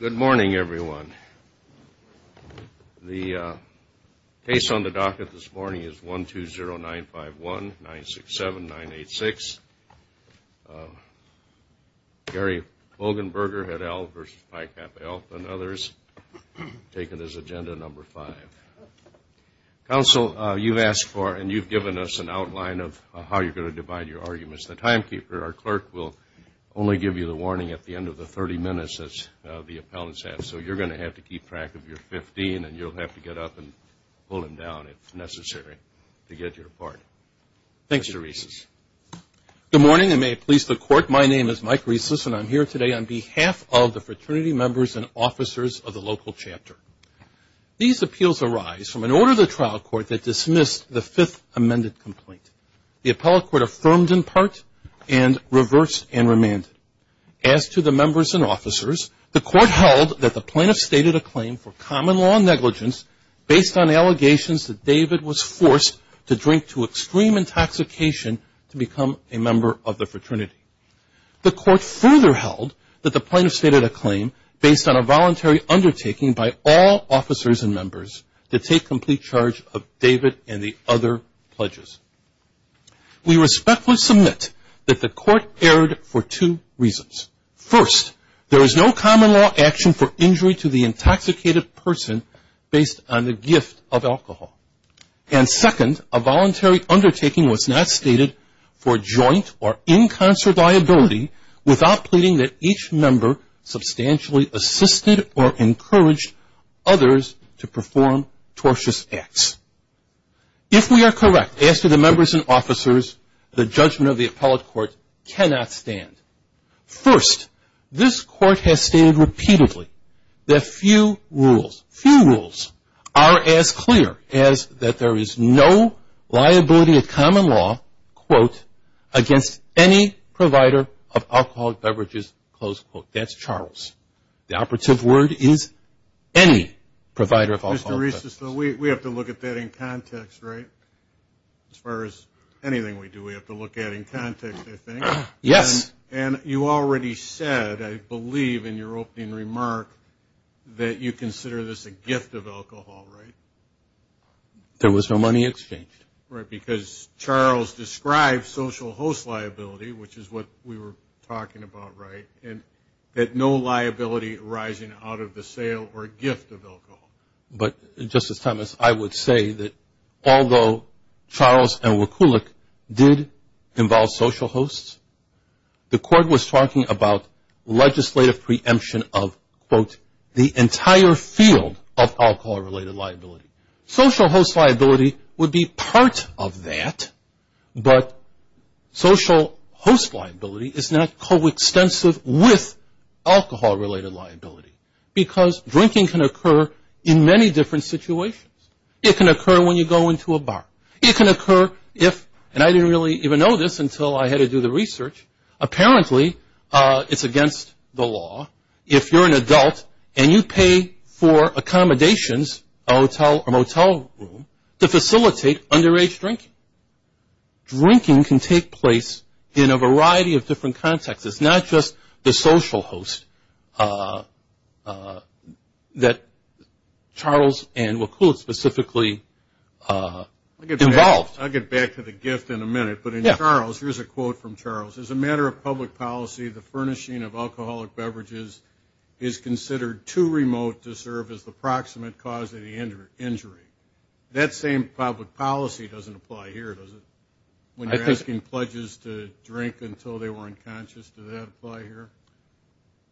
Good morning, everyone. The case on the docket this morning is 120951-967-986. Gary Bogenberger had L versus Pi Kappa Alpha and others taken as agenda number five. Counsel, you've asked for and you've given us an outline of how you're going to divide your arguments. As the timekeeper, our clerk will only give you the warning at the end of the 30 minutes as the appellants have. So you're going to have to keep track of your 15, and you'll have to get up and pull him down if necessary to get your part. Thanks, Mr. Rieses. Good morning, and may it please the Court, my name is Mike Rieses, and I'm here today on behalf of the fraternity members and officers of the local chapter. These appeals arise from an order of the trial court that dismissed the fifth amended complaint. The appellate court affirmed in part and reversed and remanded. As to the members and officers, the court held that the plaintiff stated a claim for common law negligence based on allegations that David was forced to drink to extreme intoxication to become a member of the fraternity. The court further held that the plaintiff stated a claim based on a voluntary undertaking by all officers and members to take complete charge of David and the other pledges. We respectfully submit that the court erred for two reasons. First, there is no common law action for injury to the intoxicated person based on the gift of alcohol. And second, a voluntary undertaking was not stated for joint or in concert liability without pleading that each member substantially assisted or encouraged others to perform tortious acts. If we are correct, as to the members and officers, the judgment of the appellate court cannot stand. First, this court has stated repeatedly that few rules, few rules, are as clear as that there is no liability of common law, quote, against any provider of alcoholic beverages, close quote. That's Charles. The operative word is any provider of alcoholic beverages. Mr. Resa, so we have to look at that in context, right? As far as anything we do, we have to look at it in context, I think. Yes. And you already said, I believe in your opening remark, that you consider this a gift of alcohol, right? There was no money exchanged. Right, because Charles described social host liability, which is what we were talking about, right, and that no liability arising out of the sale or gift of alcohol. But, Justice Thomas, I would say that although Charles and Wakulik did involve social hosts, the court was talking about legislative preemption of, quote, the entire field of alcohol-related liability. Social host liability would be part of that, but social host liability is not coextensive with alcohol-related liability, because drinking can occur in many different situations. It can occur when you go into a bar. It can occur if, and I didn't really even know this until I had to do the research, apparently it's against the law if you're an adult and you pay for accommodations in a motel room to facilitate underage drinking. Drinking can take place in a variety of different contexts. It's not just the social host that Charles and Wakulik specifically involved. I'll get back to the gift in a minute, but in Charles, here's a quote from Charles. As a matter of public policy, the furnishing of alcoholic beverages is considered too remote to serve as the proximate cause of the injury. That same public policy doesn't apply here, does it, when you're asking pledges to drink until they were unconscious? Does that apply here?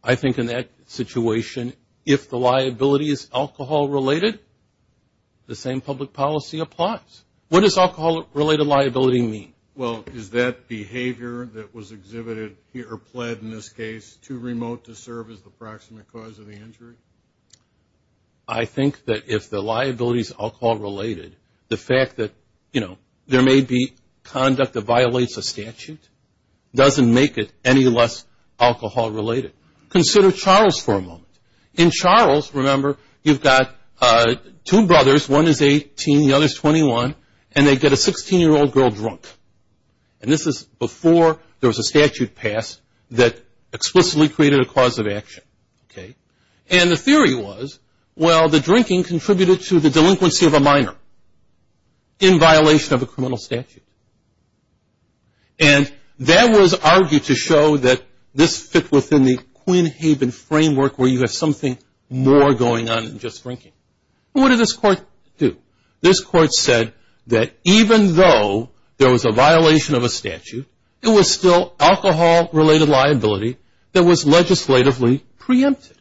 I think in that situation, if the liability is alcohol-related, the same public policy applies. What does alcohol-related liability mean? Well, is that behavior that was exhibited or pled in this case too remote to serve as the proximate cause of the injury? I think that if the liability is alcohol-related, the fact that, you know, there may be conduct that violates a statute doesn't make it any less alcohol-related. Consider Charles for a moment. In Charles, remember, you've got two brothers. One is 18, the other is 21, and they get a 16-year-old girl drunk. And this is before there was a statute passed that explicitly created a cause of action, okay? And the theory was, well, the drinking contributed to the delinquency of a minor in violation of a criminal statute. And that was argued to show that this fit within the Queen Haven framework where you have something more going on than just drinking. What did this court do? This court said that even though there was a violation of a statute, it was still alcohol-related liability that was legislatively preempted.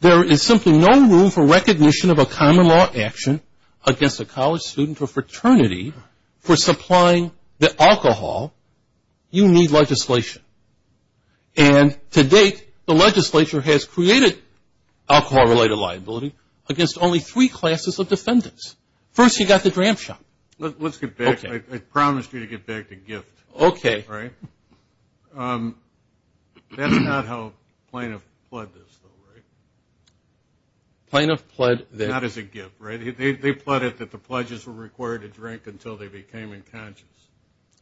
There is simply no room for recognition of a common law action against a college student or fraternity for supplying the alcohol. You need legislation. And to date, the legislature has created alcohol-related liability against only three classes of defendants. First, you've got the dram shop. Let's get back. I promised you to get back to gift. Okay. Right? That's not how plaintiff pled this, though, right? Plaintiff pled that. Not as a gift, right? They pled it that the pledges were required to drink until they became unconscious.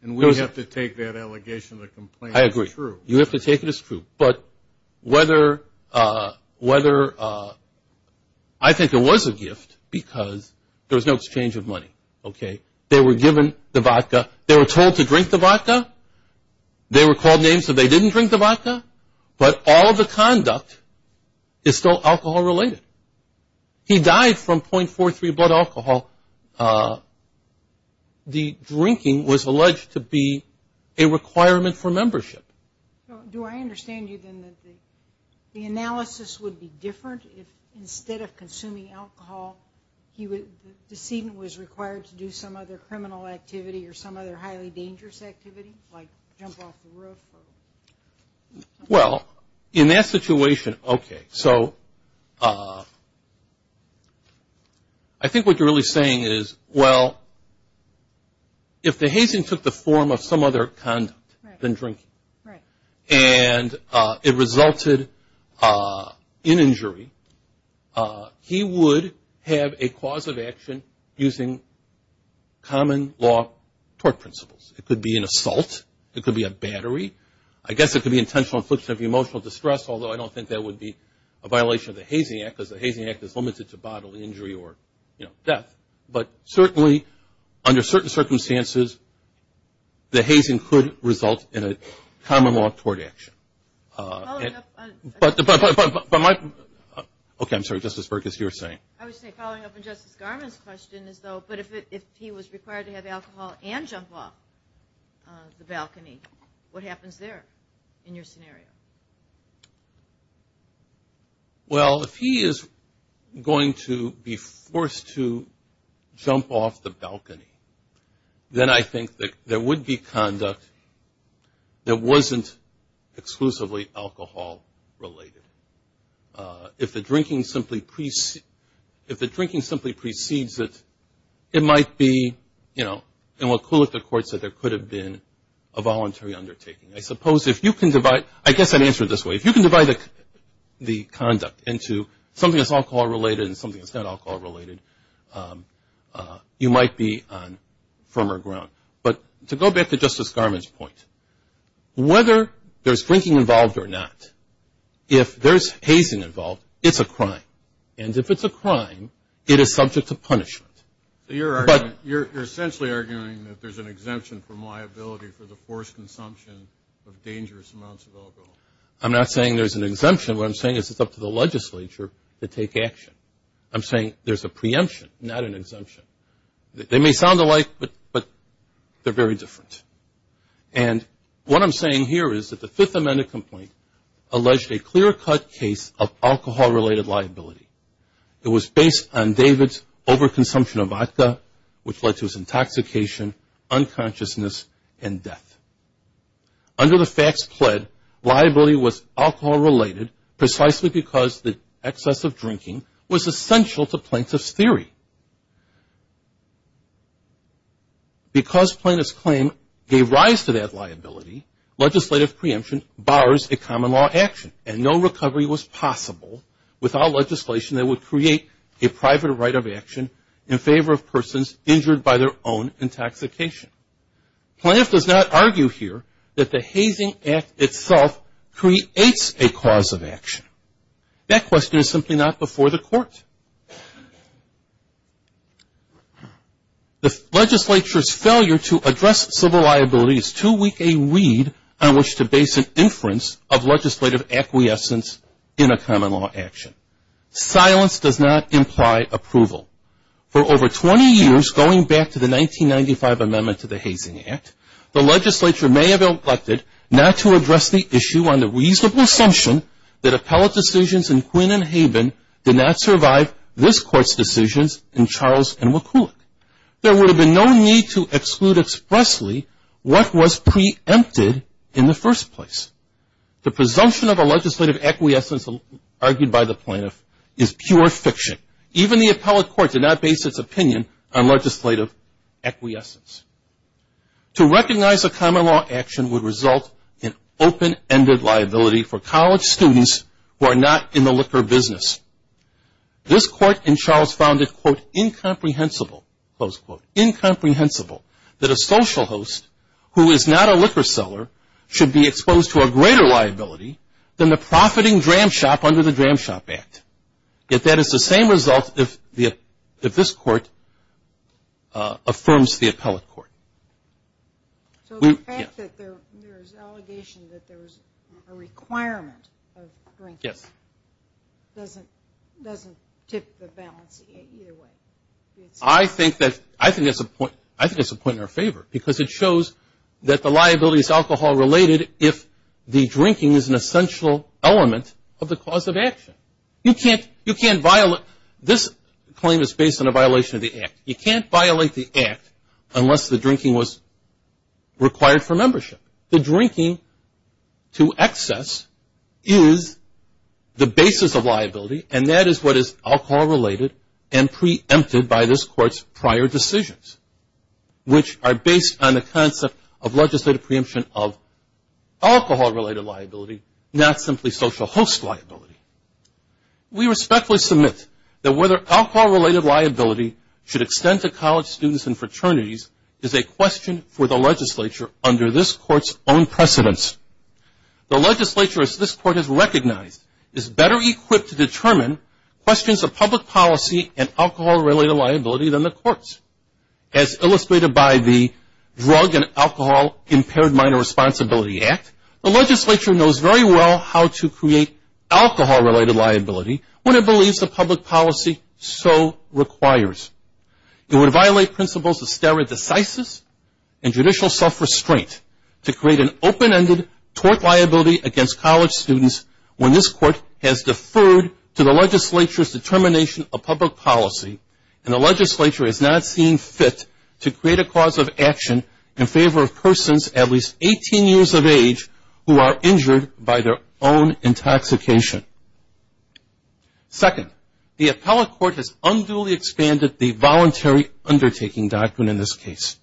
And we have to take that allegation of the complaint as true. I agree. You have to take it as true. But whether – I think it was a gift because there was no exchange of money. Okay? They were given the vodka. They were told to drink the vodka. They were called names, so they didn't drink the vodka. But all of the conduct is still alcohol-related. He died from .43 blood alcohol. The drinking was alleged to be a requirement for membership. Do I understand you, then, that the analysis would be different if instead of consuming alcohol the decedent was required to do some other criminal activity or some other highly dangerous activity, like jump off the roof? Well, in that situation, okay. So I think what you're really saying is, well, if the hazing took the form of some other conduct than drinking and it resulted in injury, he would have a cause of action using common law tort principles. It could be an assault. It could be a battery. I guess it could be intentional infliction of emotional distress, although I don't think that would be a violation of the Hazing Act because the Hazing Act is limited to bodily injury or, you know, death. But certainly, under certain circumstances, the hazing could result in a common law tort action. But my – okay, I'm sorry, Justice Bergus, you were saying? I was saying, following up on Justice Garland's question, as though if he was required to have alcohol and jump off the balcony, what happens there in your scenario? Well, if he is going to be forced to jump off the balcony, then I think that there would be conduct that wasn't exclusively alcohol-related. If the drinking simply precedes it, it might be, you know, in what Kulick, the court said, there could have been a voluntary undertaking. I suppose if you can divide – I guess I'd answer it this way. If you can divide the conduct into something that's alcohol-related and something that's not alcohol-related, you might be on firmer ground. But to go back to Justice Garland's point, whether there's drinking involved or not, if there's hazing involved, it's a crime. And if it's a crime, it is subject to punishment. You're essentially arguing that there's an exemption from liability for the forced consumption of dangerous amounts of alcohol. I'm not saying there's an exemption. What I'm saying is it's up to the legislature to take action. I'm saying there's a preemption, not an exemption. They may sound alike, but they're very different. And what I'm saying here is that the Fifth Amendment complaint alleged a clear-cut case of alcohol-related liability. It was based on David's overconsumption of vodka, which led to his intoxication, unconsciousness, and death. Under the facts pled, liability was alcohol-related precisely because the excess of drinking was essential to plaintiff's theory. Because plaintiff's claim gave rise to that liability, legislative preemption bars a common law action, and no recovery was possible without legislation that would create a private right of action in favor of persons injured by their own intoxication. Plaintiff does not argue here that the hazing act itself creates a cause of action. That question is simply not before the court. The legislature's failure to address civil liability is too weak a reed on which to base an inference of legislative acquiescence in a common law action. Silence does not imply approval. For over 20 years, going back to the 1995 amendment to the hazing act, the legislature may have elected not to address the issue on the reasonable assumption that appellate decisions in Quinn and Haben did not survive this court's decisions in Charles and McCulloch. There would have been no need to exclude expressly what was preempted in the first place. The presumption of a legislative acquiescence argued by the plaintiff is pure fiction. Even the appellate court did not base its opinion on legislative acquiescence. To recognize a common law action would result in open-ended liability for college students who are not in the liquor business. This court in Charles found it, quote, incomprehensible, close quote, incomprehensible that a social host who is not a liquor seller should be exposed to a greater liability than the profiting dram shop under the Dram Shop Act. Yet that is the same result if this court affirms the appellate court. So the fact that there is an allegation that there was a requirement of drinking doesn't tip the balance either way. I think that's a point in our favor because it shows that the liability is alcohol-related if the drinking is an essential element of the cause of action. This claim is based on a violation of the Act. You can't violate the Act unless the drinking was required for membership. The drinking to excess is the basis of liability, and that is what is alcohol-related and preempted by this court's prior decisions, which are based on the concept of legislative preemption of alcohol-related liability, not simply social host liability. We respectfully submit that whether alcohol-related liability should extend to college students and fraternities is a question for the legislature under this court's own precedence. The legislature, as this court has recognized, is better equipped to determine questions of public policy and as illustrated by the Drug and Alcohol Impaired Minor Responsibility Act, the legislature knows very well how to create alcohol-related liability when it believes the public policy so requires. It would violate principles of stare decisis and judicial self-restraint to create an open-ended tort liability against college students when this court has deferred to the legislature's determination of public policy, and the legislature is not seeing fit to create a cause of action in favor of persons at least 18 years of age who are injured by their own intoxication. Second, the appellate court has unduly expanded the voluntary undertaking doctrine in this case.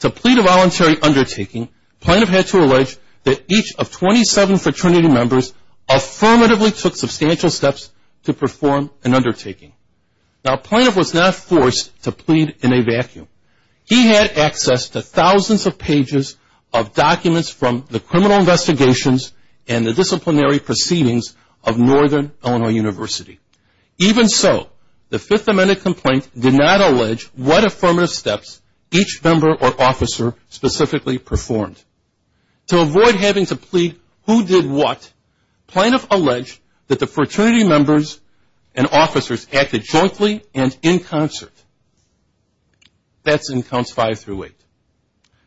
To plead a voluntary undertaking, plaintiff had to allege that each of 27 fraternity members affirmatively took substantial steps to perform an undertaking. Now, a plaintiff was not forced to plead in a vacuum. He had access to thousands of pages of documents from the criminal investigations and the disciplinary proceedings of Northern Illinois University. Even so, the Fifth Amendment complaint did not allege what affirmative steps each member or officer specifically performed. To avoid having to plead who did what, plaintiff alleged that the fraternity members and officers acted jointly and in concert. That's in Counts 5 through 8.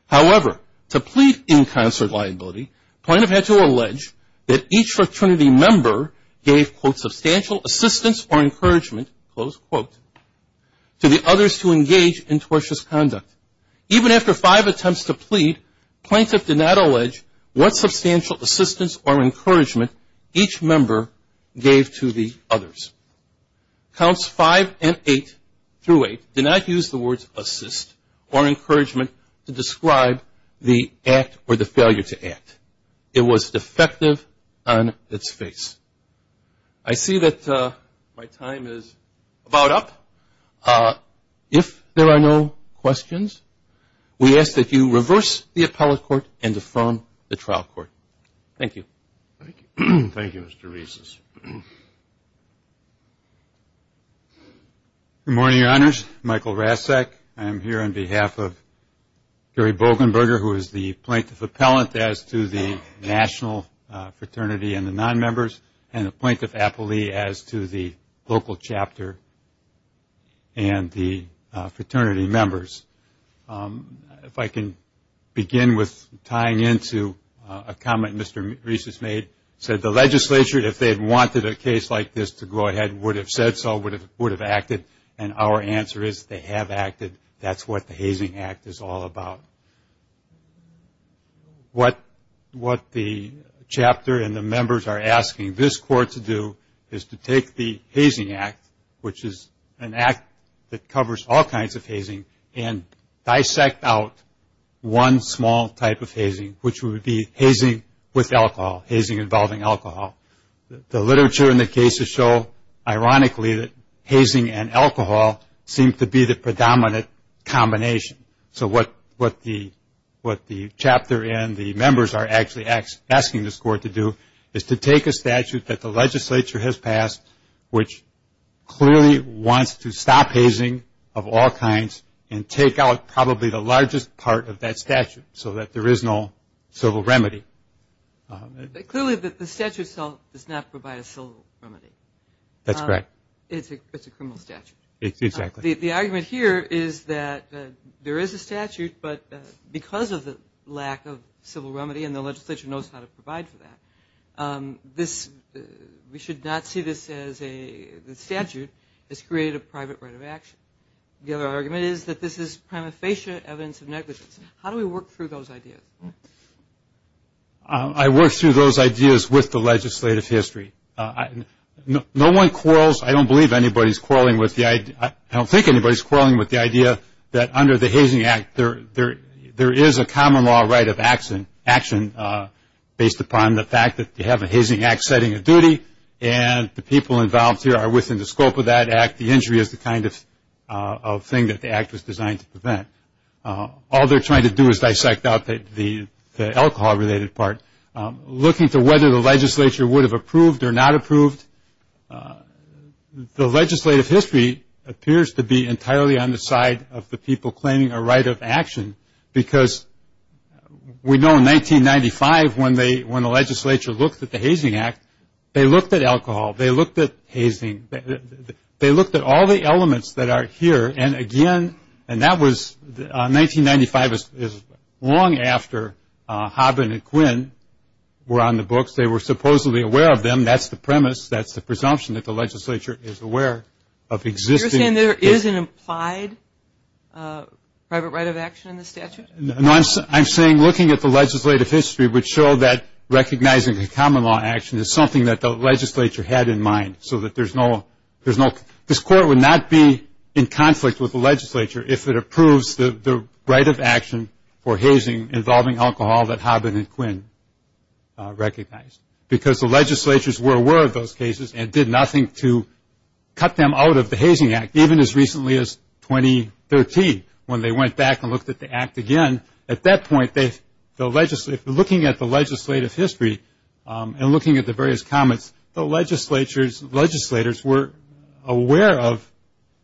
However, to plead in concert liability, plaintiff had to allege that each fraternity member gave, quote, substantial assistance or encouragement, close quote, to the others to engage in tortious conduct. Even after five attempts to plead, plaintiff did not allege what substantial assistance or encouragement each member gave to the others. Counts 5 and 8 through 8 did not use the words assist or encouragement to describe the act or the failure to act. It was defective on its face. I see that my time is about up. If there are no questions, we ask that you reverse the appellate court and defer the trial court. Thank you. Thank you, Mr. Reeses. Good morning, Your Honors. Michael Rasek. I am here on behalf of Gary Bogenberger, who is the plaintiff appellant as to the national fraternity and the non-members, and the plaintiff appellee as to the local chapter and the fraternity members. If I can begin with tying into a comment Mr. Reeses made, he said the legislature, if they had wanted a case like this to go ahead, would have said so, would have acted, and our answer is they have acted. That's what the Hazing Act is all about. What the chapter and the members are asking this court to do is to take the Hazing Act, which is an act that covers all kinds of hazing, and dissect out one small type of hazing, which would be hazing with alcohol, hazing involving alcohol. The literature in the cases show, ironically, that hazing and alcohol seem to be the predominant combination. So what the chapter and the members are actually asking this court to do is to take a statute that the legislature has passed, which clearly wants to stop hazing of all kinds and take out probably the largest part of that statute so that there is no civil remedy. Clearly the statute itself does not provide a civil remedy. That's correct. It's a criminal statute. Exactly. The argument here is that there is a statute, but because of the lack of civil remedy and the legislature knows how to provide for that, we should not see this as a statute. It's created a private right of action. The other argument is that this is prima facie evidence of negligence. How do we work through those ideas? I work through those ideas with the legislative history. No one quarrels. I don't believe anybody's quarreling with the idea. I don't think anybody's quarreling with the idea that under the Hazing Act, there is a common law right of action based upon the fact that you have a hazing act setting a duty and the people involved here are within the scope of that act. The injury is the kind of thing that the act was designed to prevent. All they're trying to do is dissect out the alcohol-related part. Looking to whether the legislature would have approved or not approved, the legislative history appears to be entirely on the side of the people claiming a right of action because we know in 1995 when the legislature looked at the Hazing Act, they looked at alcohol. They looked at hazing. They looked at all the elements that are here, and again, and that was 1995 is long after Hobbin and Quinn were on the books. They were supposedly aware of them. Again, that's the premise. That's the presumption that the legislature is aware of existing. You're saying there is an implied private right of action in the statute? No, I'm saying looking at the legislative history would show that recognizing a common law action is something that the legislature had in mind so that there's no – this Court would not be in conflict with the legislature if it approves the right of action for hazing involving alcohol that Hobbin and Quinn recognized because the legislatures were aware of those cases and did nothing to cut them out of the Hazing Act, even as recently as 2013 when they went back and looked at the Act again. At that point, looking at the legislative history and looking at the various comments, the legislators were aware of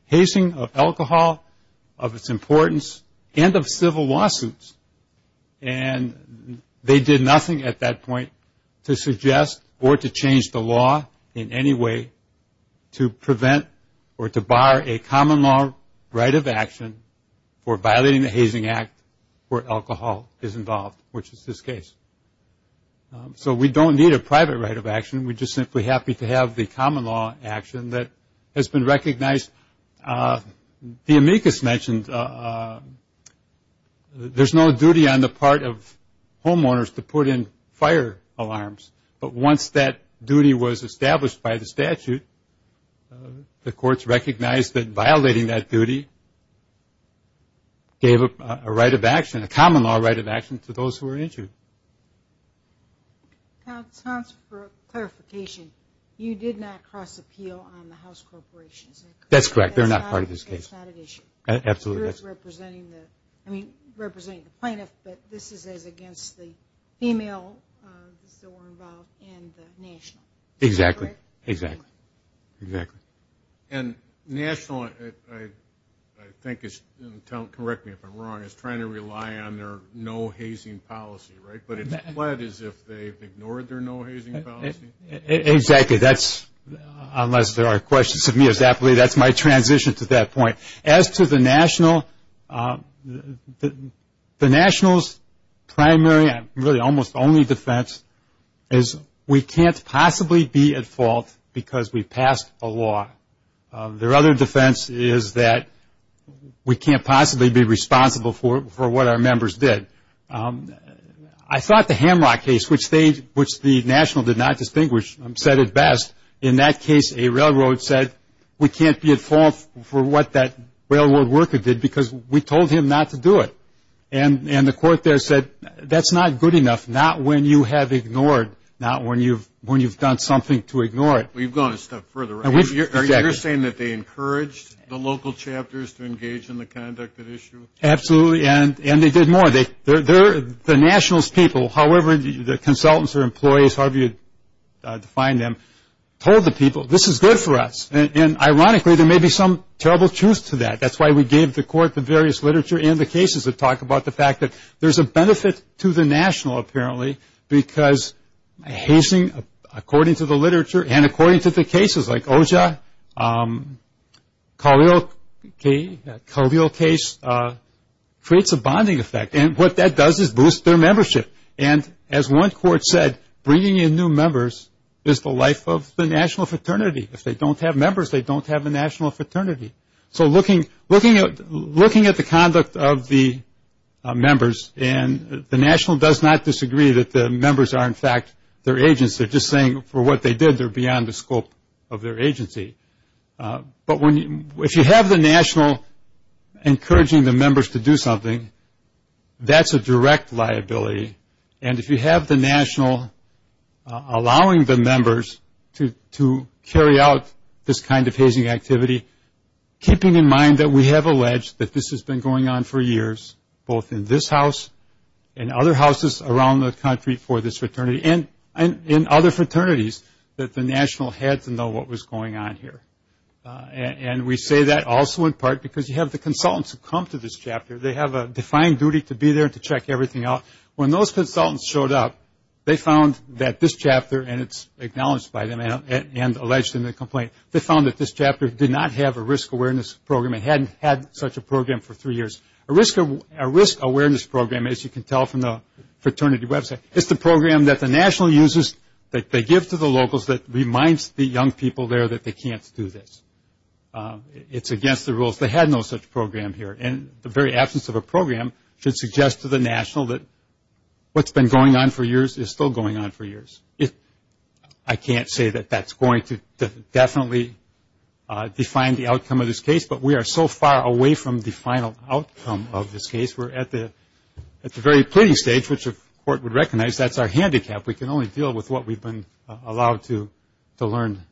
hazing, of alcohol, of its importance, and of civil lawsuits, and they did nothing at that point to suggest or to change the law in any way to prevent or to bar a common law right of action for violating the Hazing Act where alcohol is involved, which is this case. So we don't need a private right of action. We're just simply happy to have the common law action that has been recognized. The amicus mentioned there's no duty on the part of homeowners to put in fire alarms, but once that duty was established by the statute, the courts recognized that violating that duty gave a right of action, a common law right of action to those who were injured. Counsel, for clarification, you did not cross appeal on the house corporations. That's correct. They're not part of this case. That's not an issue. Absolutely. You're representing the plaintiff, but this is against the female that were involved and the national. Exactly. And national, I think, correct me if I'm wrong, is trying to rely on their no-hazing policy, right? But it's pled as if they've ignored their no-hazing policy? Exactly. That's, unless there are questions to me, that's my transition to that point. As to the national, the national's primary and really almost only defense is we can't possibly be at fault because we passed a law. Their other defense is that we can't possibly be responsible for what our members did. I thought the Hamlock case, which the national did not distinguish, said it best. In that case, a railroad said, we can't be at fault for what that railroad worker did because we told him not to do it. And the court there said, that's not good enough, not when you have ignored, not when you've done something to ignore it. Well, you've gone a step further, right? You're saying that they encouraged the local chapters to engage in the conduct at issue? Absolutely. And they did more. The national's people, however, the consultants or employees, however you define them, told the people, this is good for us. And ironically, there may be some terrible truth to that. That's why we gave the court the various literature and the cases that talk about the fact that there's a benefit to the national, apparently, because hazing, according to the literature and according to the cases like Oja, Khalil case, creates a bonding effect. And what that does is boost their membership. And as one court said, bringing in new members is the life of the national fraternity. If they don't have members, they don't have a national fraternity. So looking at the conduct of the members, and the national does not disagree that the members are, in fact, their agents. They're just saying for what they did, they're beyond the scope of their agency. But if you have the national encouraging the members to do something, that's a direct liability. And if you have the national allowing the members to carry out this kind of hazing activity, keeping in mind that we have alleged that this has been going on for years, both in this house and other houses around the country for this fraternity and in other fraternities, that the national had to know what was going on here. And we say that also in part because you have the consultants who come to this chapter. They have a defined duty to be there to check everything out. When those consultants showed up, they found that this chapter, and it's acknowledged by them and alleged in the complaint, they found that this chapter did not have a risk awareness program. It hadn't had such a program for three years. A risk awareness program, as you can tell from the fraternity website, is the program that the national uses, that they give to the locals, that reminds the young people there that they can't do this. It's against the rules. They had no such program here. And the very absence of a program should suggest to the national that what's been going on for years is still going on for years. I can't say that that's going to definitely define the outcome of this case, but we are so far away from the final outcome of this case. We're at the very pleading stage, which if the court would recognize, that's our handicap. We can only deal with what we've been allowed to learn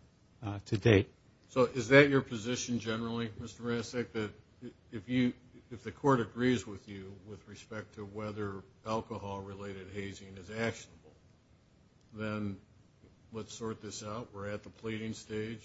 to date. So is that your position generally, Mr. Resnick, that if the court agrees with you with respect to whether alcohol-related hazing is actionable, then let's sort this out. We're at the pleading stage,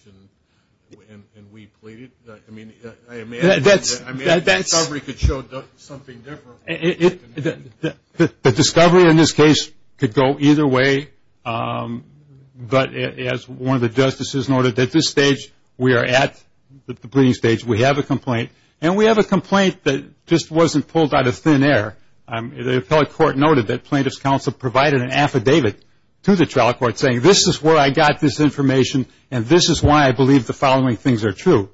and we plead it. I mean, I imagine the discovery could show something different. The discovery in this case could go either way, but as one of the justices noted, at this stage we are at the pleading stage. We have a complaint, and we have a complaint that just wasn't pulled out of thin air. The appellate court noted that plaintiff's counsel provided an affidavit to the trial court saying, this is where I got this information, and this is why I believe the following things are true.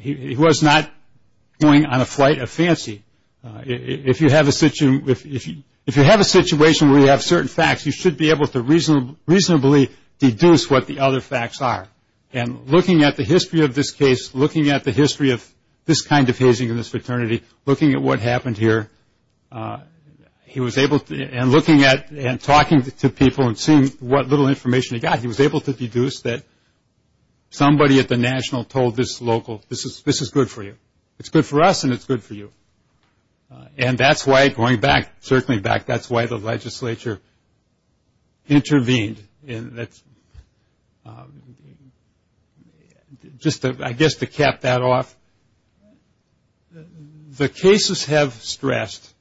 He was not going on a flight of fancy. If you have a situation where you have certain facts, you should be able to reasonably deduce what the other facts are. And looking at the history of this case, looking at the history of this kind of hazing in this fraternity, looking at what happened here, and looking at and talking to people and seeing what little information he got, he was able to deduce that somebody at the National told this local, this is good for you. It's good for us, and it's good for you. And that's why, going back, certainly back, that's why the legislature intervened. And that's just, I guess, to cap that off. The cases have stressed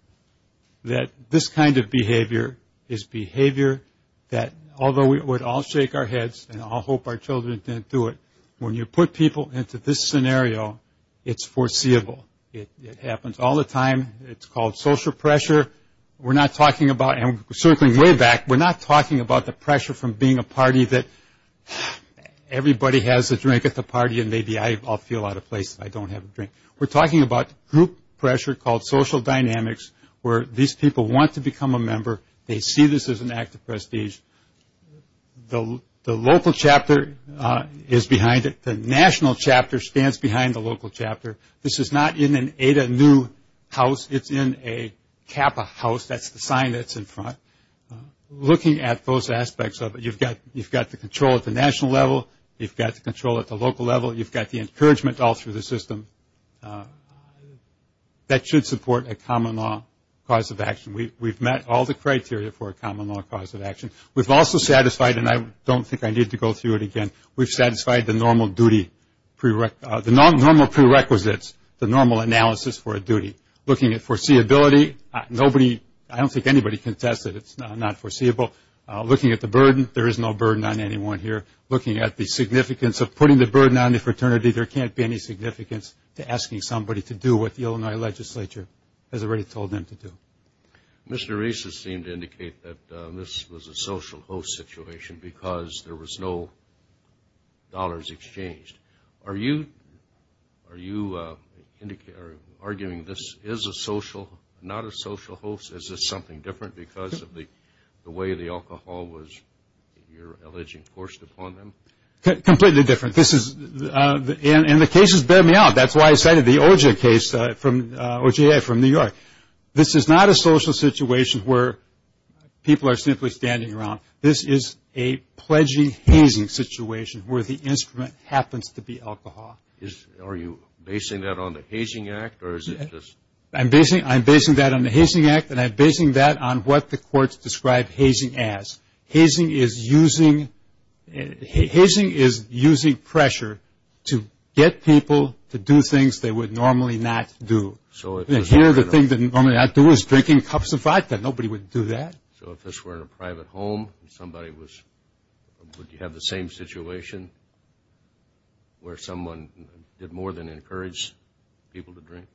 that this kind of behavior is behavior that, although we would all shake our heads and all hope our children didn't do it, when you put people into this scenario, it's foreseeable. It happens all the time. It's called social pressure. We're not talking about, and circling way back, we're not talking about the pressure from being a party that everybody has a drink at the party and maybe I'll feel out of place if I don't have a drink. We're talking about group pressure called social dynamics where these people want to become a member. They see this as an act of prestige. The local chapter is behind it. The national chapter stands behind the local chapter. This is not in an Ada Neu house. It's in a Kappa house. That's the sign that's in front. Looking at those aspects of it, you've got the control at the national level. You've got the control at the local level. You've got the encouragement all through the system. That should support a common law cause of action. We've met all the criteria for a common law cause of action. We've also satisfied, and I don't think I need to go through it again, we've satisfied the normal prerequisites, the normal analysis for a duty. Looking at foreseeability, I don't think anybody can test it. It's not foreseeable. Looking at the burden, there is no burden on anyone here. Looking at the significance of putting the burden on the fraternity, there can't be any significance to asking somebody to do what the Illinois legislature has already told them to do. Mr. Reese has seemed to indicate that this was a social host situation because there was no dollars exchanged. Are you arguing this is a social, not a social host? Is this something different because of the way the alcohol was, you're alleging, forced upon them? Completely different. And the cases bear me out. That's why I cited the OJ case, OJA from New York. This is not a social situation where people are simply standing around. This is a pledging hazing situation where the instrument happens to be alcohol. Are you basing that on the Hazing Act? I'm basing that on the Hazing Act, and I'm basing that on what the courts describe hazing as. Hazing is using pressure to get people to do things they would normally not do. And here the thing they'd normally not do is drinking cups of vodka. Nobody would do that. So if this were in a private home and somebody was – would you have the same situation where someone did more than encourage people to drink?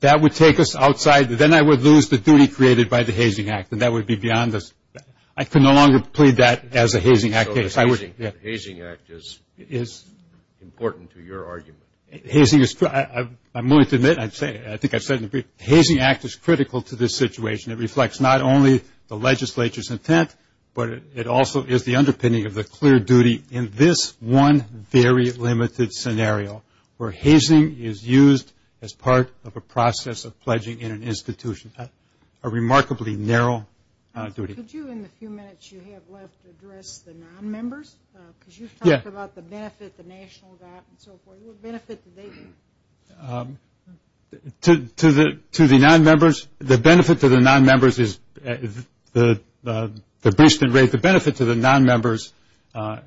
That would take us outside. Then I would lose the duty created by the Hazing Act, and that would be beyond us. I can no longer plead that as a Hazing Act case. So the Hazing Act is important to your argument. I'm willing to admit, I think I've said it in the brief, the Hazing Act is critical to this situation. It reflects not only the legislature's intent, but it also is the underpinning of the clear duty in this one very limited scenario where hazing is used as part of a process of pledging in an institution. A remarkably narrow duty. Could you, in the few minutes you have left, address the non-members? Because you've talked about the benefit, the national gap, and so forth. What benefit do they get? To the non-members? The benefit to the non-members is the basement rate. The benefit to the non-members can't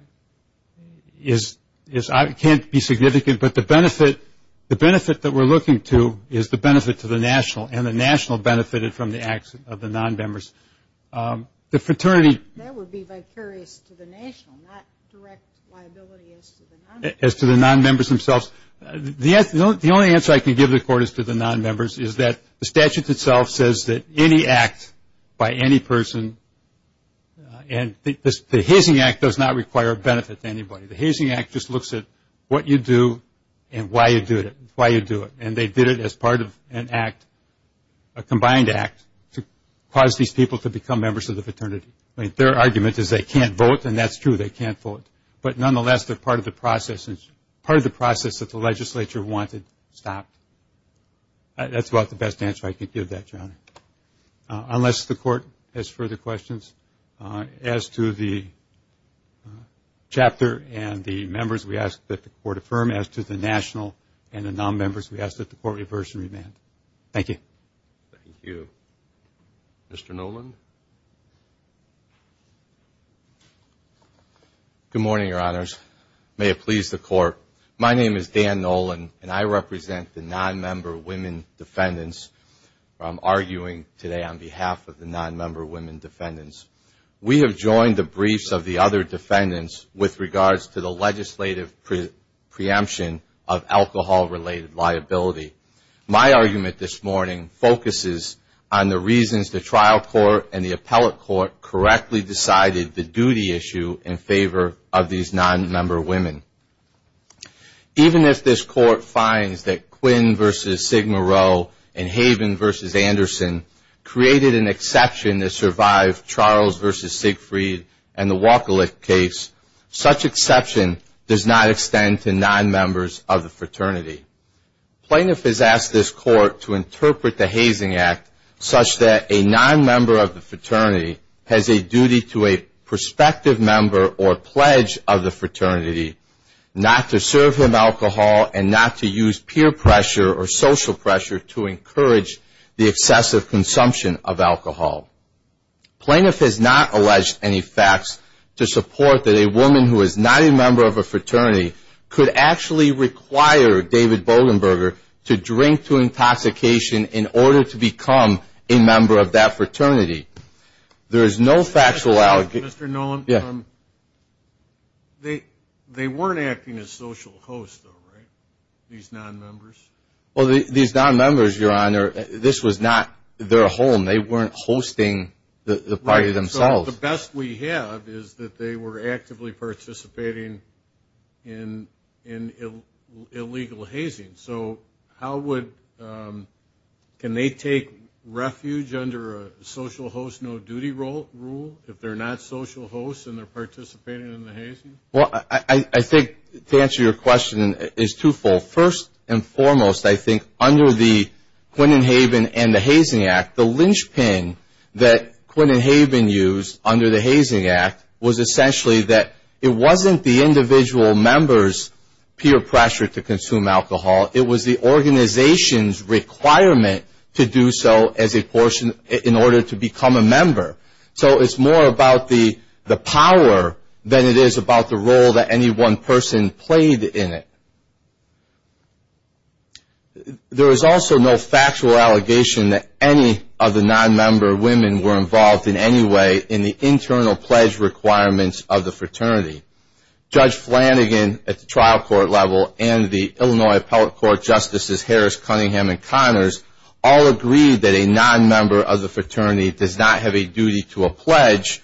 be significant, but the benefit that we're looking to is the benefit to the national, and the national benefited from the acts of the non-members. The fraternity – That would be vicarious to the national, not direct liability as to the non-members. The only answer I can give the court is to the non-members is that the statute itself says that any act by any person – and the Hazing Act does not require a benefit to anybody. The Hazing Act just looks at what you do and why you do it. And they did it as part of an act, a combined act, to cause these people to become members of the fraternity. Their argument is they can't vote, and that's true, they can't vote. But, nonetheless, they're part of the process that the legislature wanted stopped. That's about the best answer I can give that, John, unless the court has further questions. As to the chapter and the members, we ask that the court affirm. As to the national and the non-members, we ask that the court reverse and remand. Thank you. Thank you. Mr. Noland? Good morning, Your Honors. May it please the court. My name is Dan Noland, and I represent the non-member women defendants. I'm arguing today on behalf of the non-member women defendants. We have joined the briefs of the other defendants with regards to the legislative preemption of alcohol-related liability. My argument this morning focuses on the reasons the trial court and the appellate court correctly decided the duty issue in favor of these non-member women. Even if this court finds that Quinn v. Sigma Rho and Haven v. Anderson created an exception that survived Charles v. Siegfried and the Walker-Lick case, such exception does not extend to non-members of the fraternity. Plaintiff has asked this court to interpret the hazing act such that a non-member of the fraternity has a duty to a prospective member or pledge of the fraternity not to serve him alcohol and not to use peer pressure or social pressure to encourage the excessive consumption of alcohol. Plaintiff has not alleged any facts to support that a woman who is not a member of a fraternity could actually require David Bogenberger to drink to intoxication in order to become a member of that fraternity. There is no factual allegation. Mr. Nolen, they weren't acting as social hosts, though, right, these non-members? Well, these non-members, Your Honor, this was not their home. They weren't hosting the party themselves. So the best we have is that they were actively participating in illegal hazing. So how would they take refuge under a social host no-duty rule if they're not social hosts and they're participating in the hazing? Well, I think to answer your question is twofold. First and foremost, I think under the Quinnen-Haven and the Hazing Act, the linchpin that Quinnen-Haven used under the Hazing Act was essentially that it wasn't the individual member's peer pressure to consume alcohol. It was the organization's requirement to do so as a portion in order to become a member. So it's more about the power than it is about the role that any one person played in it. There is also no factual allegation that any of the non-member women were involved in any way in the internal pledge requirements of the fraternity. Judge Flanagan at the trial court level and the Illinois Appellate Court Justices Harris, Cunningham, and Connors all agreed that a non-member of the fraternity does not have a duty to a pledge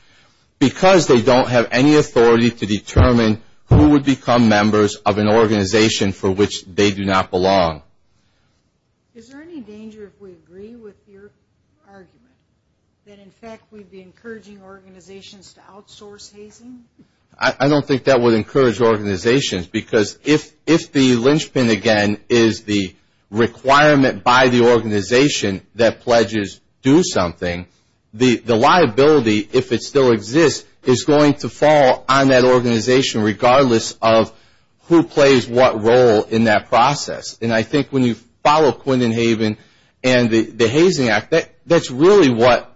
because they don't have any authority to determine who would become members of an organization for which they do not belong. Is there any danger if we agree with your argument that, in fact, we'd be encouraging organizations to outsource hazing? I don't think that would encourage organizations because if the linchpin, again, is the requirement by the organization that pledges do something, the liability, if it still exists, is going to fall on that organization regardless of who plays what role in that process. And I think when you follow Quinnen-Haven and the Hazing Act, that's really what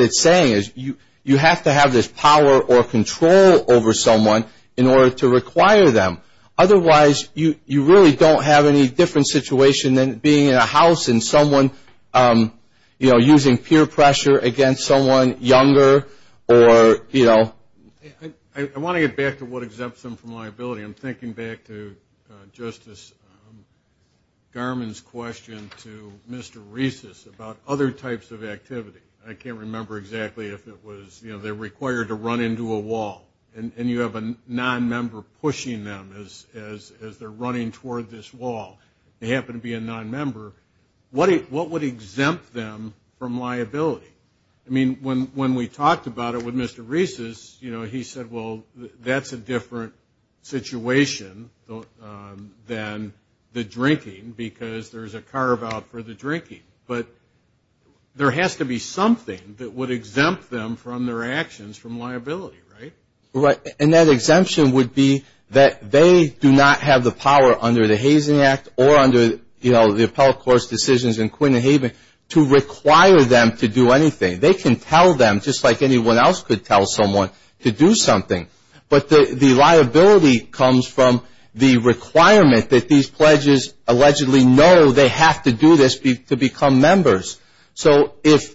it's saying, is you have to have this power or control over someone in order to require them. Otherwise, you really don't have any different situation than being in a house and someone, you know, using peer pressure against someone younger or, you know. I want to get back to what exempts them from liability. I'm thinking back to Justice Garmon's question to Mr. Reeses about other types of activity. I can't remember exactly if it was, you know, they're required to run into a wall and you have a non-member pushing them as they're running toward this wall. They happen to be a non-member. What would exempt them from liability? I mean, when we talked about it with Mr. Reeses, you know, he said, well, that's a different situation than the drinking because there's a carve-out for the drinking. But there has to be something that would exempt them from their actions from liability, right? And that exemption would be that they do not have the power under the Hazen Act or under, you know, the appellate court's decisions in Quinn and Haven to require them to do anything. They can tell them just like anyone else could tell someone to do something. But the liability comes from the requirement that these pledges allegedly know they have to do this to become members. So it's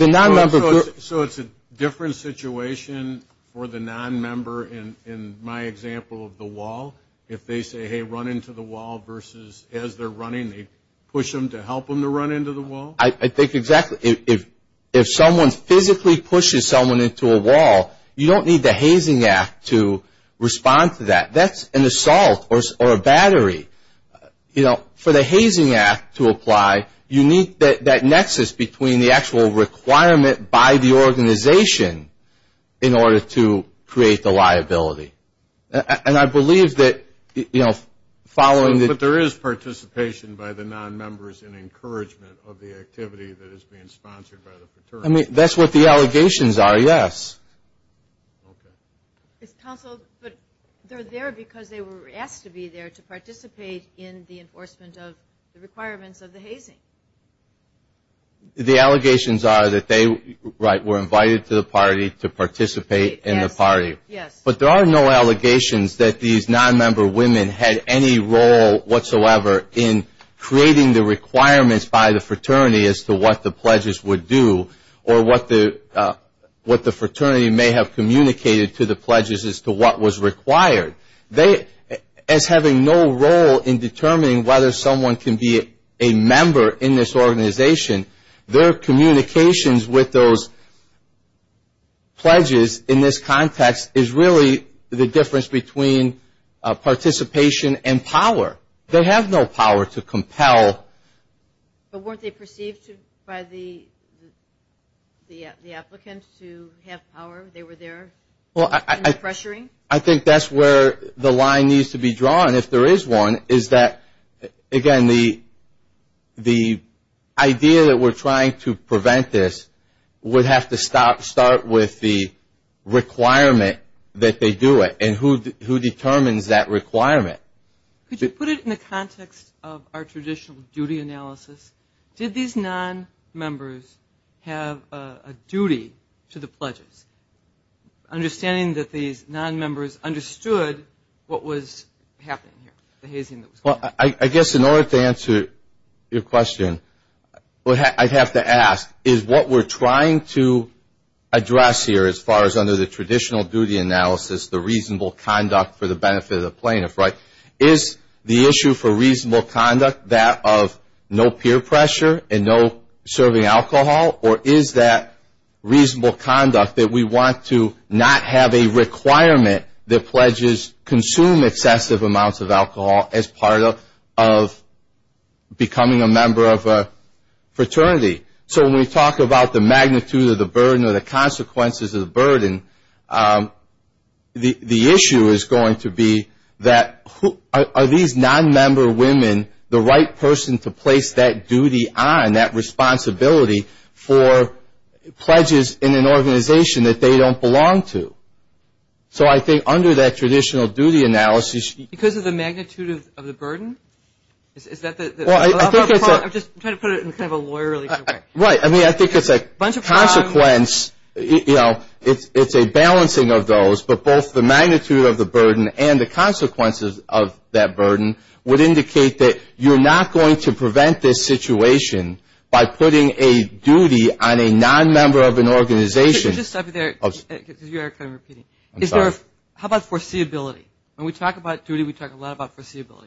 a different situation for the non-member in my example of the wall? If they say, hey, run into the wall versus as they're running they push them to help them to run into the wall? I think exactly. If someone physically pushes someone into a wall, you don't need the Hazen Act to respond to that. That's an assault or a battery. You know, for the Hazen Act to apply, you need that nexus between the actual requirement by the organization in order to create the liability. And I believe that, you know, following the ‑‑ But there is participation by the non-members in encouragement of the activity that is being sponsored by the fraternity. I mean, that's what the allegations are, yes. Okay. Counsel, but they're there because they were asked to be there to participate in the enforcement of the requirements of the Hazen. The allegations are that they, right, were invited to the party to participate in the party. Yes. But there are no allegations that these non-member women had any role whatsoever in creating the requirements by the fraternity as to what the pledges would do or what the fraternity may have communicated to the pledges as to what was required. They, as having no role in determining whether someone can be a member in this organization, their communications with those pledges in this context is really the difference between participation and power. They have no power to compel. But weren't they perceived by the applicants to have power? They were there in the pressuring? I think that's where the line needs to be drawn, if there is one, is that, again, the idea that we're trying to prevent this would have to start with the requirement that they do it. And who determines that requirement? Could you put it in the context of our traditional duty analysis? Did these non-members have a duty to the pledges, understanding that these non-members understood what was happening here, the hazing that was going on? Well, I guess in order to answer your question, what I'd have to ask is what we're trying to address here as far as under the traditional duty analysis, the reasonable conduct for the benefit of the plaintiff, right? Is the issue for reasonable conduct that of no peer pressure and no serving alcohol? Or is that reasonable conduct that we want to not have a requirement that pledges consume excessive amounts of alcohol as part of becoming a member of a fraternity? So when we talk about the magnitude of the burden or the consequences of the burden, the issue is going to be that are these non-member women the right person to place that duty on, that responsibility for pledges in an organization that they don't belong to? So I think under that traditional duty analysis. Because of the magnitude of the burden? I'm just trying to put it in kind of a lawyerly way. Right. I mean, I think it's a consequence. You know, it's a balancing of those. But both the magnitude of the burden and the consequences of that burden would indicate that you're not going to prevent this situation by putting a duty on a non-member of an organization. Could you just stop you there? Because you are kind of repeating. I'm sorry. How about foreseeability? When we talk about duty, we talk a lot about foreseeability.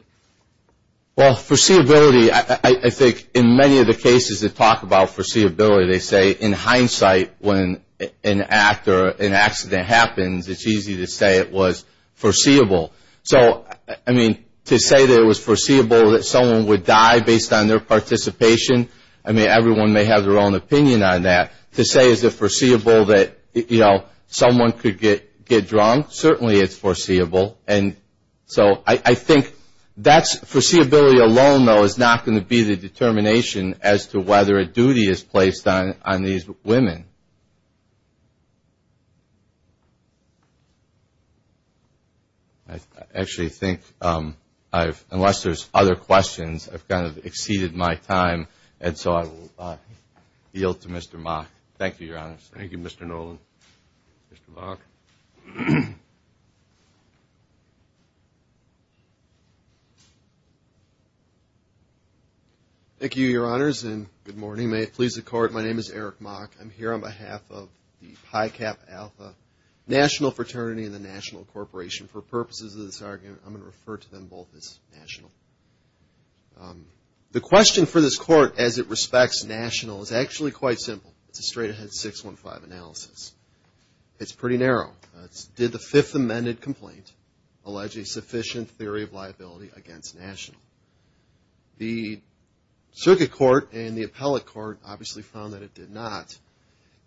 Well, foreseeability, I think in many of the cases that talk about foreseeability, they say in hindsight when an act or an accident happens, it's easy to say it was foreseeable. So, I mean, to say that it was foreseeable that someone would die based on their participation, I mean, everyone may have their own opinion on that. To say is it foreseeable that, you know, someone could get drunk, certainly it's foreseeable. And so I think that's foreseeability alone, though, is not going to be the determination as to whether a duty is placed on these women. I actually think I've, unless there's other questions, I've kind of exceeded my time. And so I will yield to Mr. Mock. Thank you, Your Honor. Thank you, Mr. Nolan. Mr. Mock. Thank you, Your Honors, and good morning. May it please the Court, my name is Eric Mock. I'm here on behalf of the PI-CAP Alpha National Fraternity and the National Corporation. For purposes of this argument, I'm going to refer to them both as national. The question for this Court as it respects national is actually quite simple. It's a straight-ahead 615 analysis. It's pretty narrow. Did the Fifth Amended Complaint allege a sufficient theory of liability against national? The Circuit Court and the Appellate Court obviously found that it did not.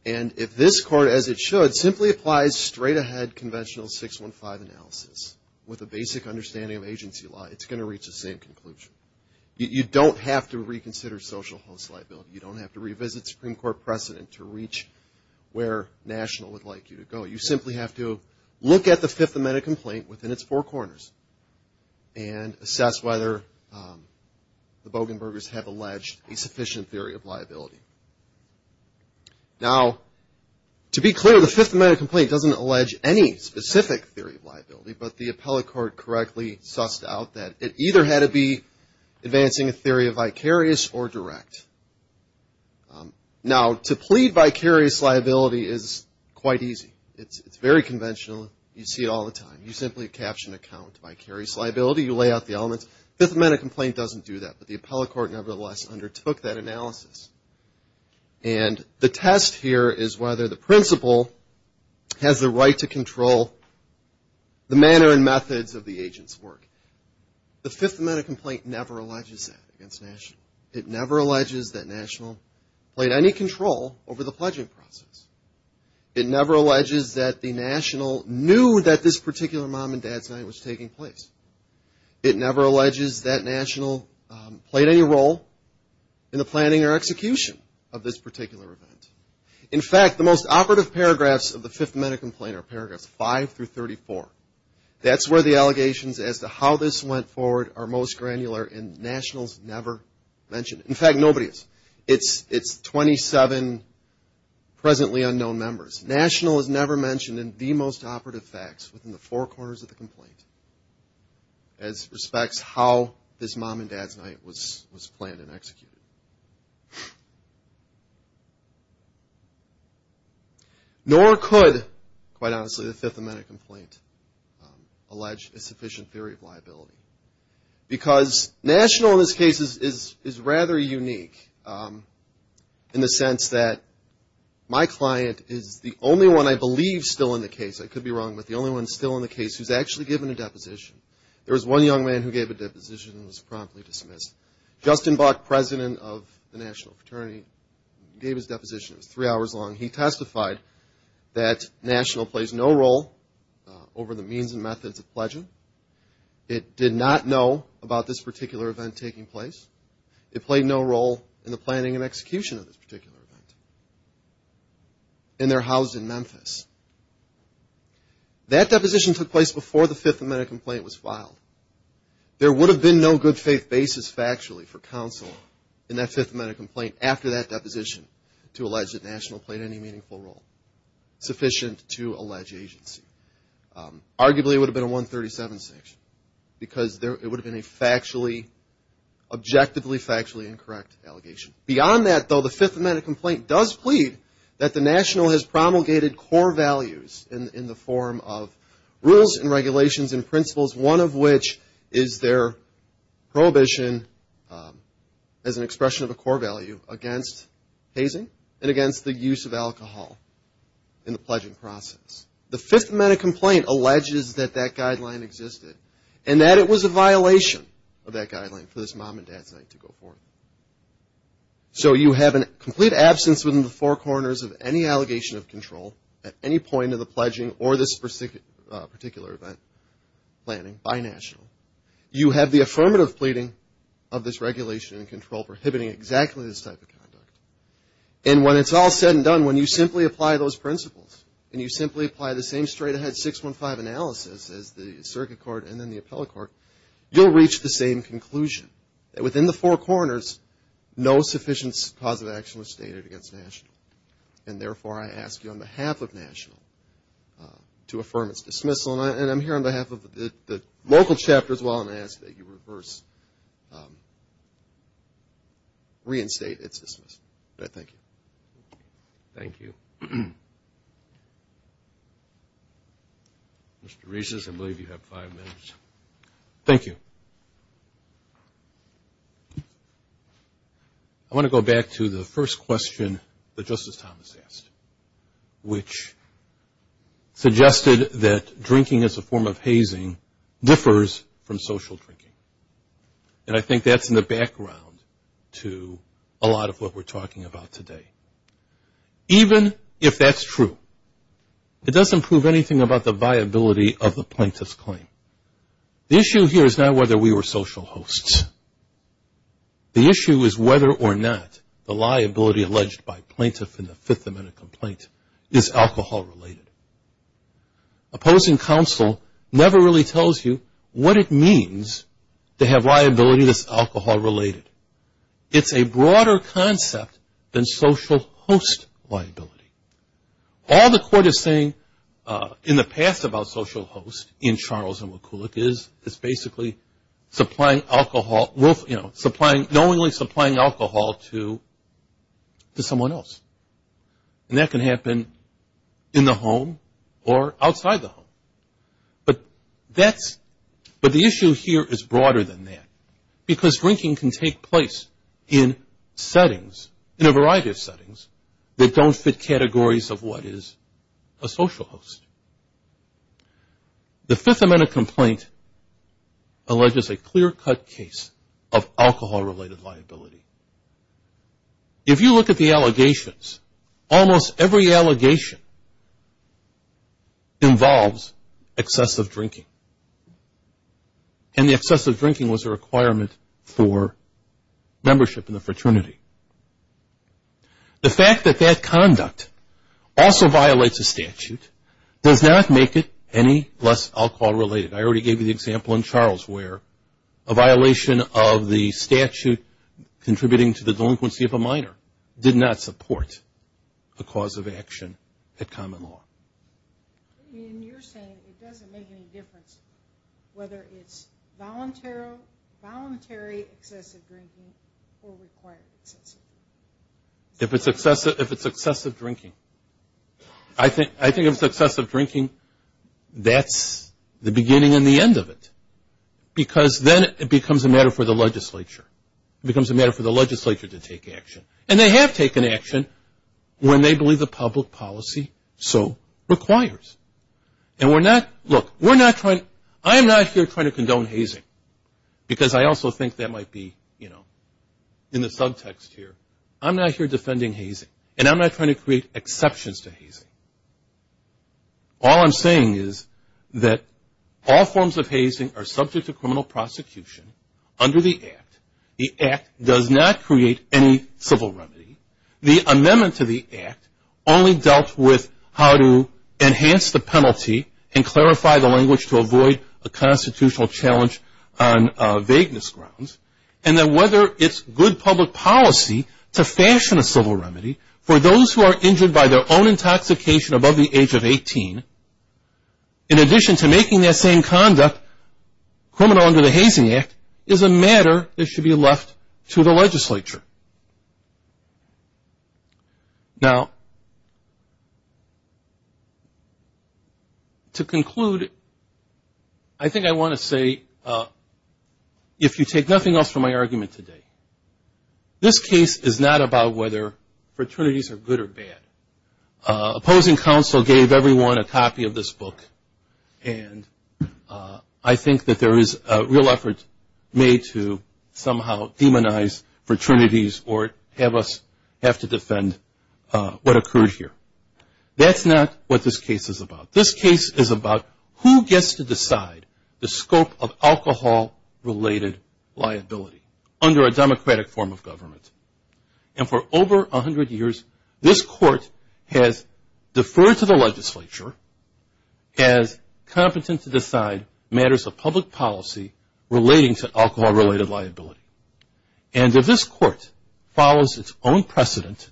And if this Court, as it should, simply applies straight-ahead conventional 615 analysis with a basic understanding of agency law, it's going to reach the same conclusion. You don't have to reconsider social host liability. You don't have to revisit Supreme Court precedent to reach where national would like you to go. You simply have to look at the Fifth Amended Complaint within its four corners and assess whether the Bogenbergers have alleged a sufficient theory of liability. Now, to be clear, the Fifth Amended Complaint doesn't allege any specific theory of liability, but the Appellate Court correctly sussed out that it either had to be advancing a theory of vicarious or direct. Now, to plead vicarious liability is quite easy. It's very conventional. You see it all the time. You simply caption a count, vicarious liability. You lay out the elements. Fifth Amended Complaint doesn't do that, but the Appellate Court nevertheless undertook that analysis. And the test here is whether the principal has the right to control the manner and methods of the agent's work. The Fifth Amended Complaint never alleges that against national. It never alleges that national played any control over the pledging process. It never alleges that the national knew that this particular mom and dad's night was taking place. It never alleges that national played any role in the planning or execution of this particular event. In fact, the most operative paragraphs of the Fifth Amended Complaint are paragraphs 5 through 34. That's where the allegations as to how this went forward are most granular, and nationals never mention it. In fact, nobody has. It's 27 presently unknown members. National is never mentioned in the most operative facts within the four corners of the complaint as respects how this mom and dad's night was planned and executed. Nor could, quite honestly, the Fifth Amended Complaint allege a sufficient theory of liability. Because national in this case is rather unique in the sense that my client is the only one I believe still in the case. I could be wrong, but the only one still in the case who's actually given a deposition. There was one young man who gave a deposition and was promptly dismissed. Justin Buck, President of the National Fraternity, gave his deposition. It was three hours long. He testified that national plays no role over the means and methods of pledging. It did not know about this particular event taking place. It played no role in the planning and execution of this particular event. And they're housed in Memphis. That deposition took place before the Fifth Amended Complaint was filed. There would have been no good faith basis factually for counsel in that Fifth Amended Complaint after that deposition to allege that national played any meaningful role sufficient to allege agency. Arguably, it would have been a 137 section because it would have been a factually, objectively factually incorrect allegation. Beyond that, though, the Fifth Amended Complaint does plead that the national has promulgated core values in the form of rules and regulations and principles, one of which is their prohibition as an expression of a core value against hazing and against the use of alcohol in the pledging process. The Fifth Amended Complaint alleges that that guideline existed and that it was a violation of that guideline for this mom and dad site to go forward. So you have a complete absence within the four corners of any allegation of control at any point of the pledging or this particular event planning by national. You have the affirmative pleading of this regulation and control prohibiting exactly this type of conduct. And when it's all said and done, when you simply apply those principles and you simply apply the same straight ahead 615 analysis as the circuit court and then the appellate court, you'll reach the same conclusion that within the four corners, no sufficient cause of action was stated against national. And therefore, I ask you on behalf of national to affirm its dismissal. And I'm here on behalf of the local chapter as well and ask that you reinstate its dismissal. Thank you. Thank you. Mr. Reeses, I believe you have five minutes. Thank you. I want to go back to the first question that Justice Thomas asked, which suggested that drinking as a form of hazing differs from social drinking. And I think that's in the background to a lot of what we're talking about today. Even if that's true, it doesn't prove anything about the viability of the plaintiff's claim. The issue here is not whether we were social hosts. The issue is whether or not the liability alleged by plaintiff in the Fifth Amendment complaint is alcohol-related. Opposing counsel never really tells you what it means to have liability that's alcohol-related. It's a broader concept than social host liability. All the court is saying in the past about social hosts in Charles and McCulloch is basically knowingly supplying alcohol to someone else. And that can happen in the home or outside the home. But the issue here is broader than that because drinking can take place in settings, in a variety of settings, that don't fit categories of what is a social host. The Fifth Amendment complaint alleges a clear-cut case of alcohol-related liability. If you look at the allegations, almost every allegation involves excessive drinking. And the excessive drinking was a requirement for membership in the fraternity. The fact that that conduct also violates a statute does not make it any less alcohol-related. I already gave you the example in Charles where a violation of the statute contributing to the delinquency of a minor did not support a cause of action at common law. I mean, you're saying it doesn't make any difference whether it's voluntary, or voluntary excessive drinking will require excessive drinking. If it's excessive drinking, I think if it's excessive drinking, that's the beginning and the end of it. Because then it becomes a matter for the legislature. It becomes a matter for the legislature to take action. And they have taken action when they believe the public policy so requires. And we're not, look, we're not trying, I'm not here trying to condone hazing. Because I also think that might be, you know, in the subtext here. I'm not here defending hazing, and I'm not trying to create exceptions to hazing. All I'm saying is that all forms of hazing are subject to criminal prosecution under the Act. The Act does not create any civil remedy. The amendment to the Act only dealt with how to enhance the penalty and clarify the language to avoid a constitutional challenge on vagueness grounds. And then whether it's good public policy to fashion a civil remedy for those who are injured by their own intoxication above the age of 18, in addition to making that same conduct criminal under the Hazing Act, is a matter that should be left to the legislature. Now, to conclude, I think I want to say, if you take nothing else from my argument today, this case is not about whether fraternities are good or bad. Opposing counsel gave everyone a copy of this book, and I think that there is a real effort made to somehow demonize fraternities or have us have to defend what occurred here. That's not what this case is about. This case is about who gets to decide the scope of alcohol-related liability under a democratic form of government. And for over 100 years, this court has deferred to the legislature as competent to decide matters of public policy relating to alcohol-related liability. And if this court follows its own precedent,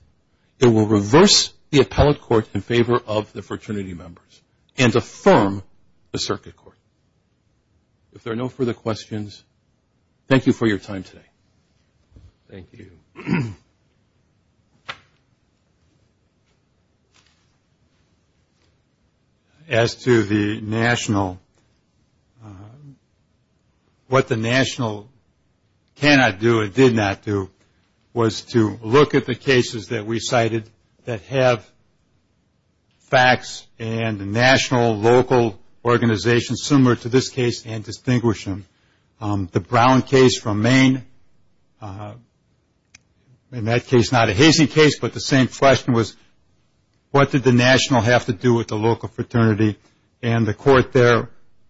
it will reverse the appellate court in favor of the fraternity members and affirm the circuit court. If there are no further questions, thank you for your time today. Thank you. As to the national, what the national cannot do, it did not do, was to look at the cases that we cited that have facts and national, local organizations similar to this case and distinguish them. The Brown case from Maine, in that case not a hazy case, but the same question was, what did the national have to do with the local fraternity? And the court there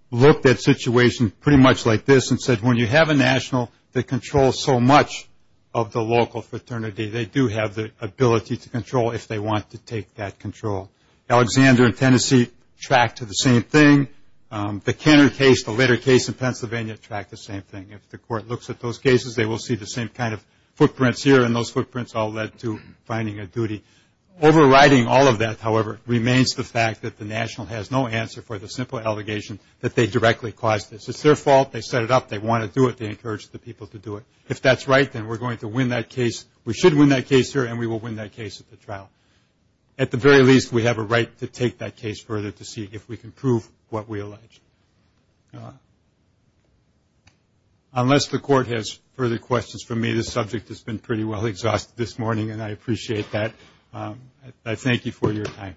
looked at situations pretty much like this and said, when you have a national that controls so much of the local fraternity, they do have the ability to control if they want to take that control. Alexander in Tennessee tracked to the same thing. The Kenner case, the later case in Pennsylvania, tracked the same thing. If the court looks at those cases, they will see the same kind of footprints here, and those footprints all led to finding a duty. Overriding all of that, however, remains the fact that the national has no answer for the simple allegation that they directly caused this. It's their fault. They set it up. They want to do it. They encouraged the people to do it. If that's right, then we're going to win that case. We should win that case here, and we will win that case at the trial. At the very least, we have a right to take that case further to see if we can prove what we allege. Unless the court has further questions for me, this subject has been pretty well exhausted this morning, and I appreciate that. I thank you for your time.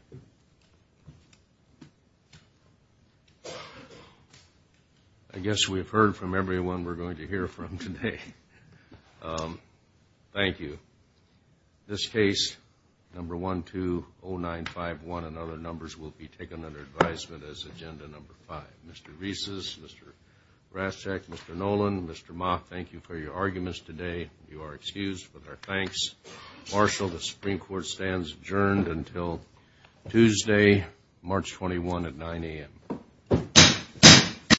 I guess we've heard from everyone we're going to hear from today. Thank you. This case, No. 120951 and other numbers, will be taken under advisement as Agenda No. 5. Mr. Rieses, Mr. Raschak, Mr. Nolan, Mr. Moth, thank you for your arguments today. You are excused with our thanks. Marshall, the Supreme Court stands adjourned until Tuesday, March 21 at 9 a.m.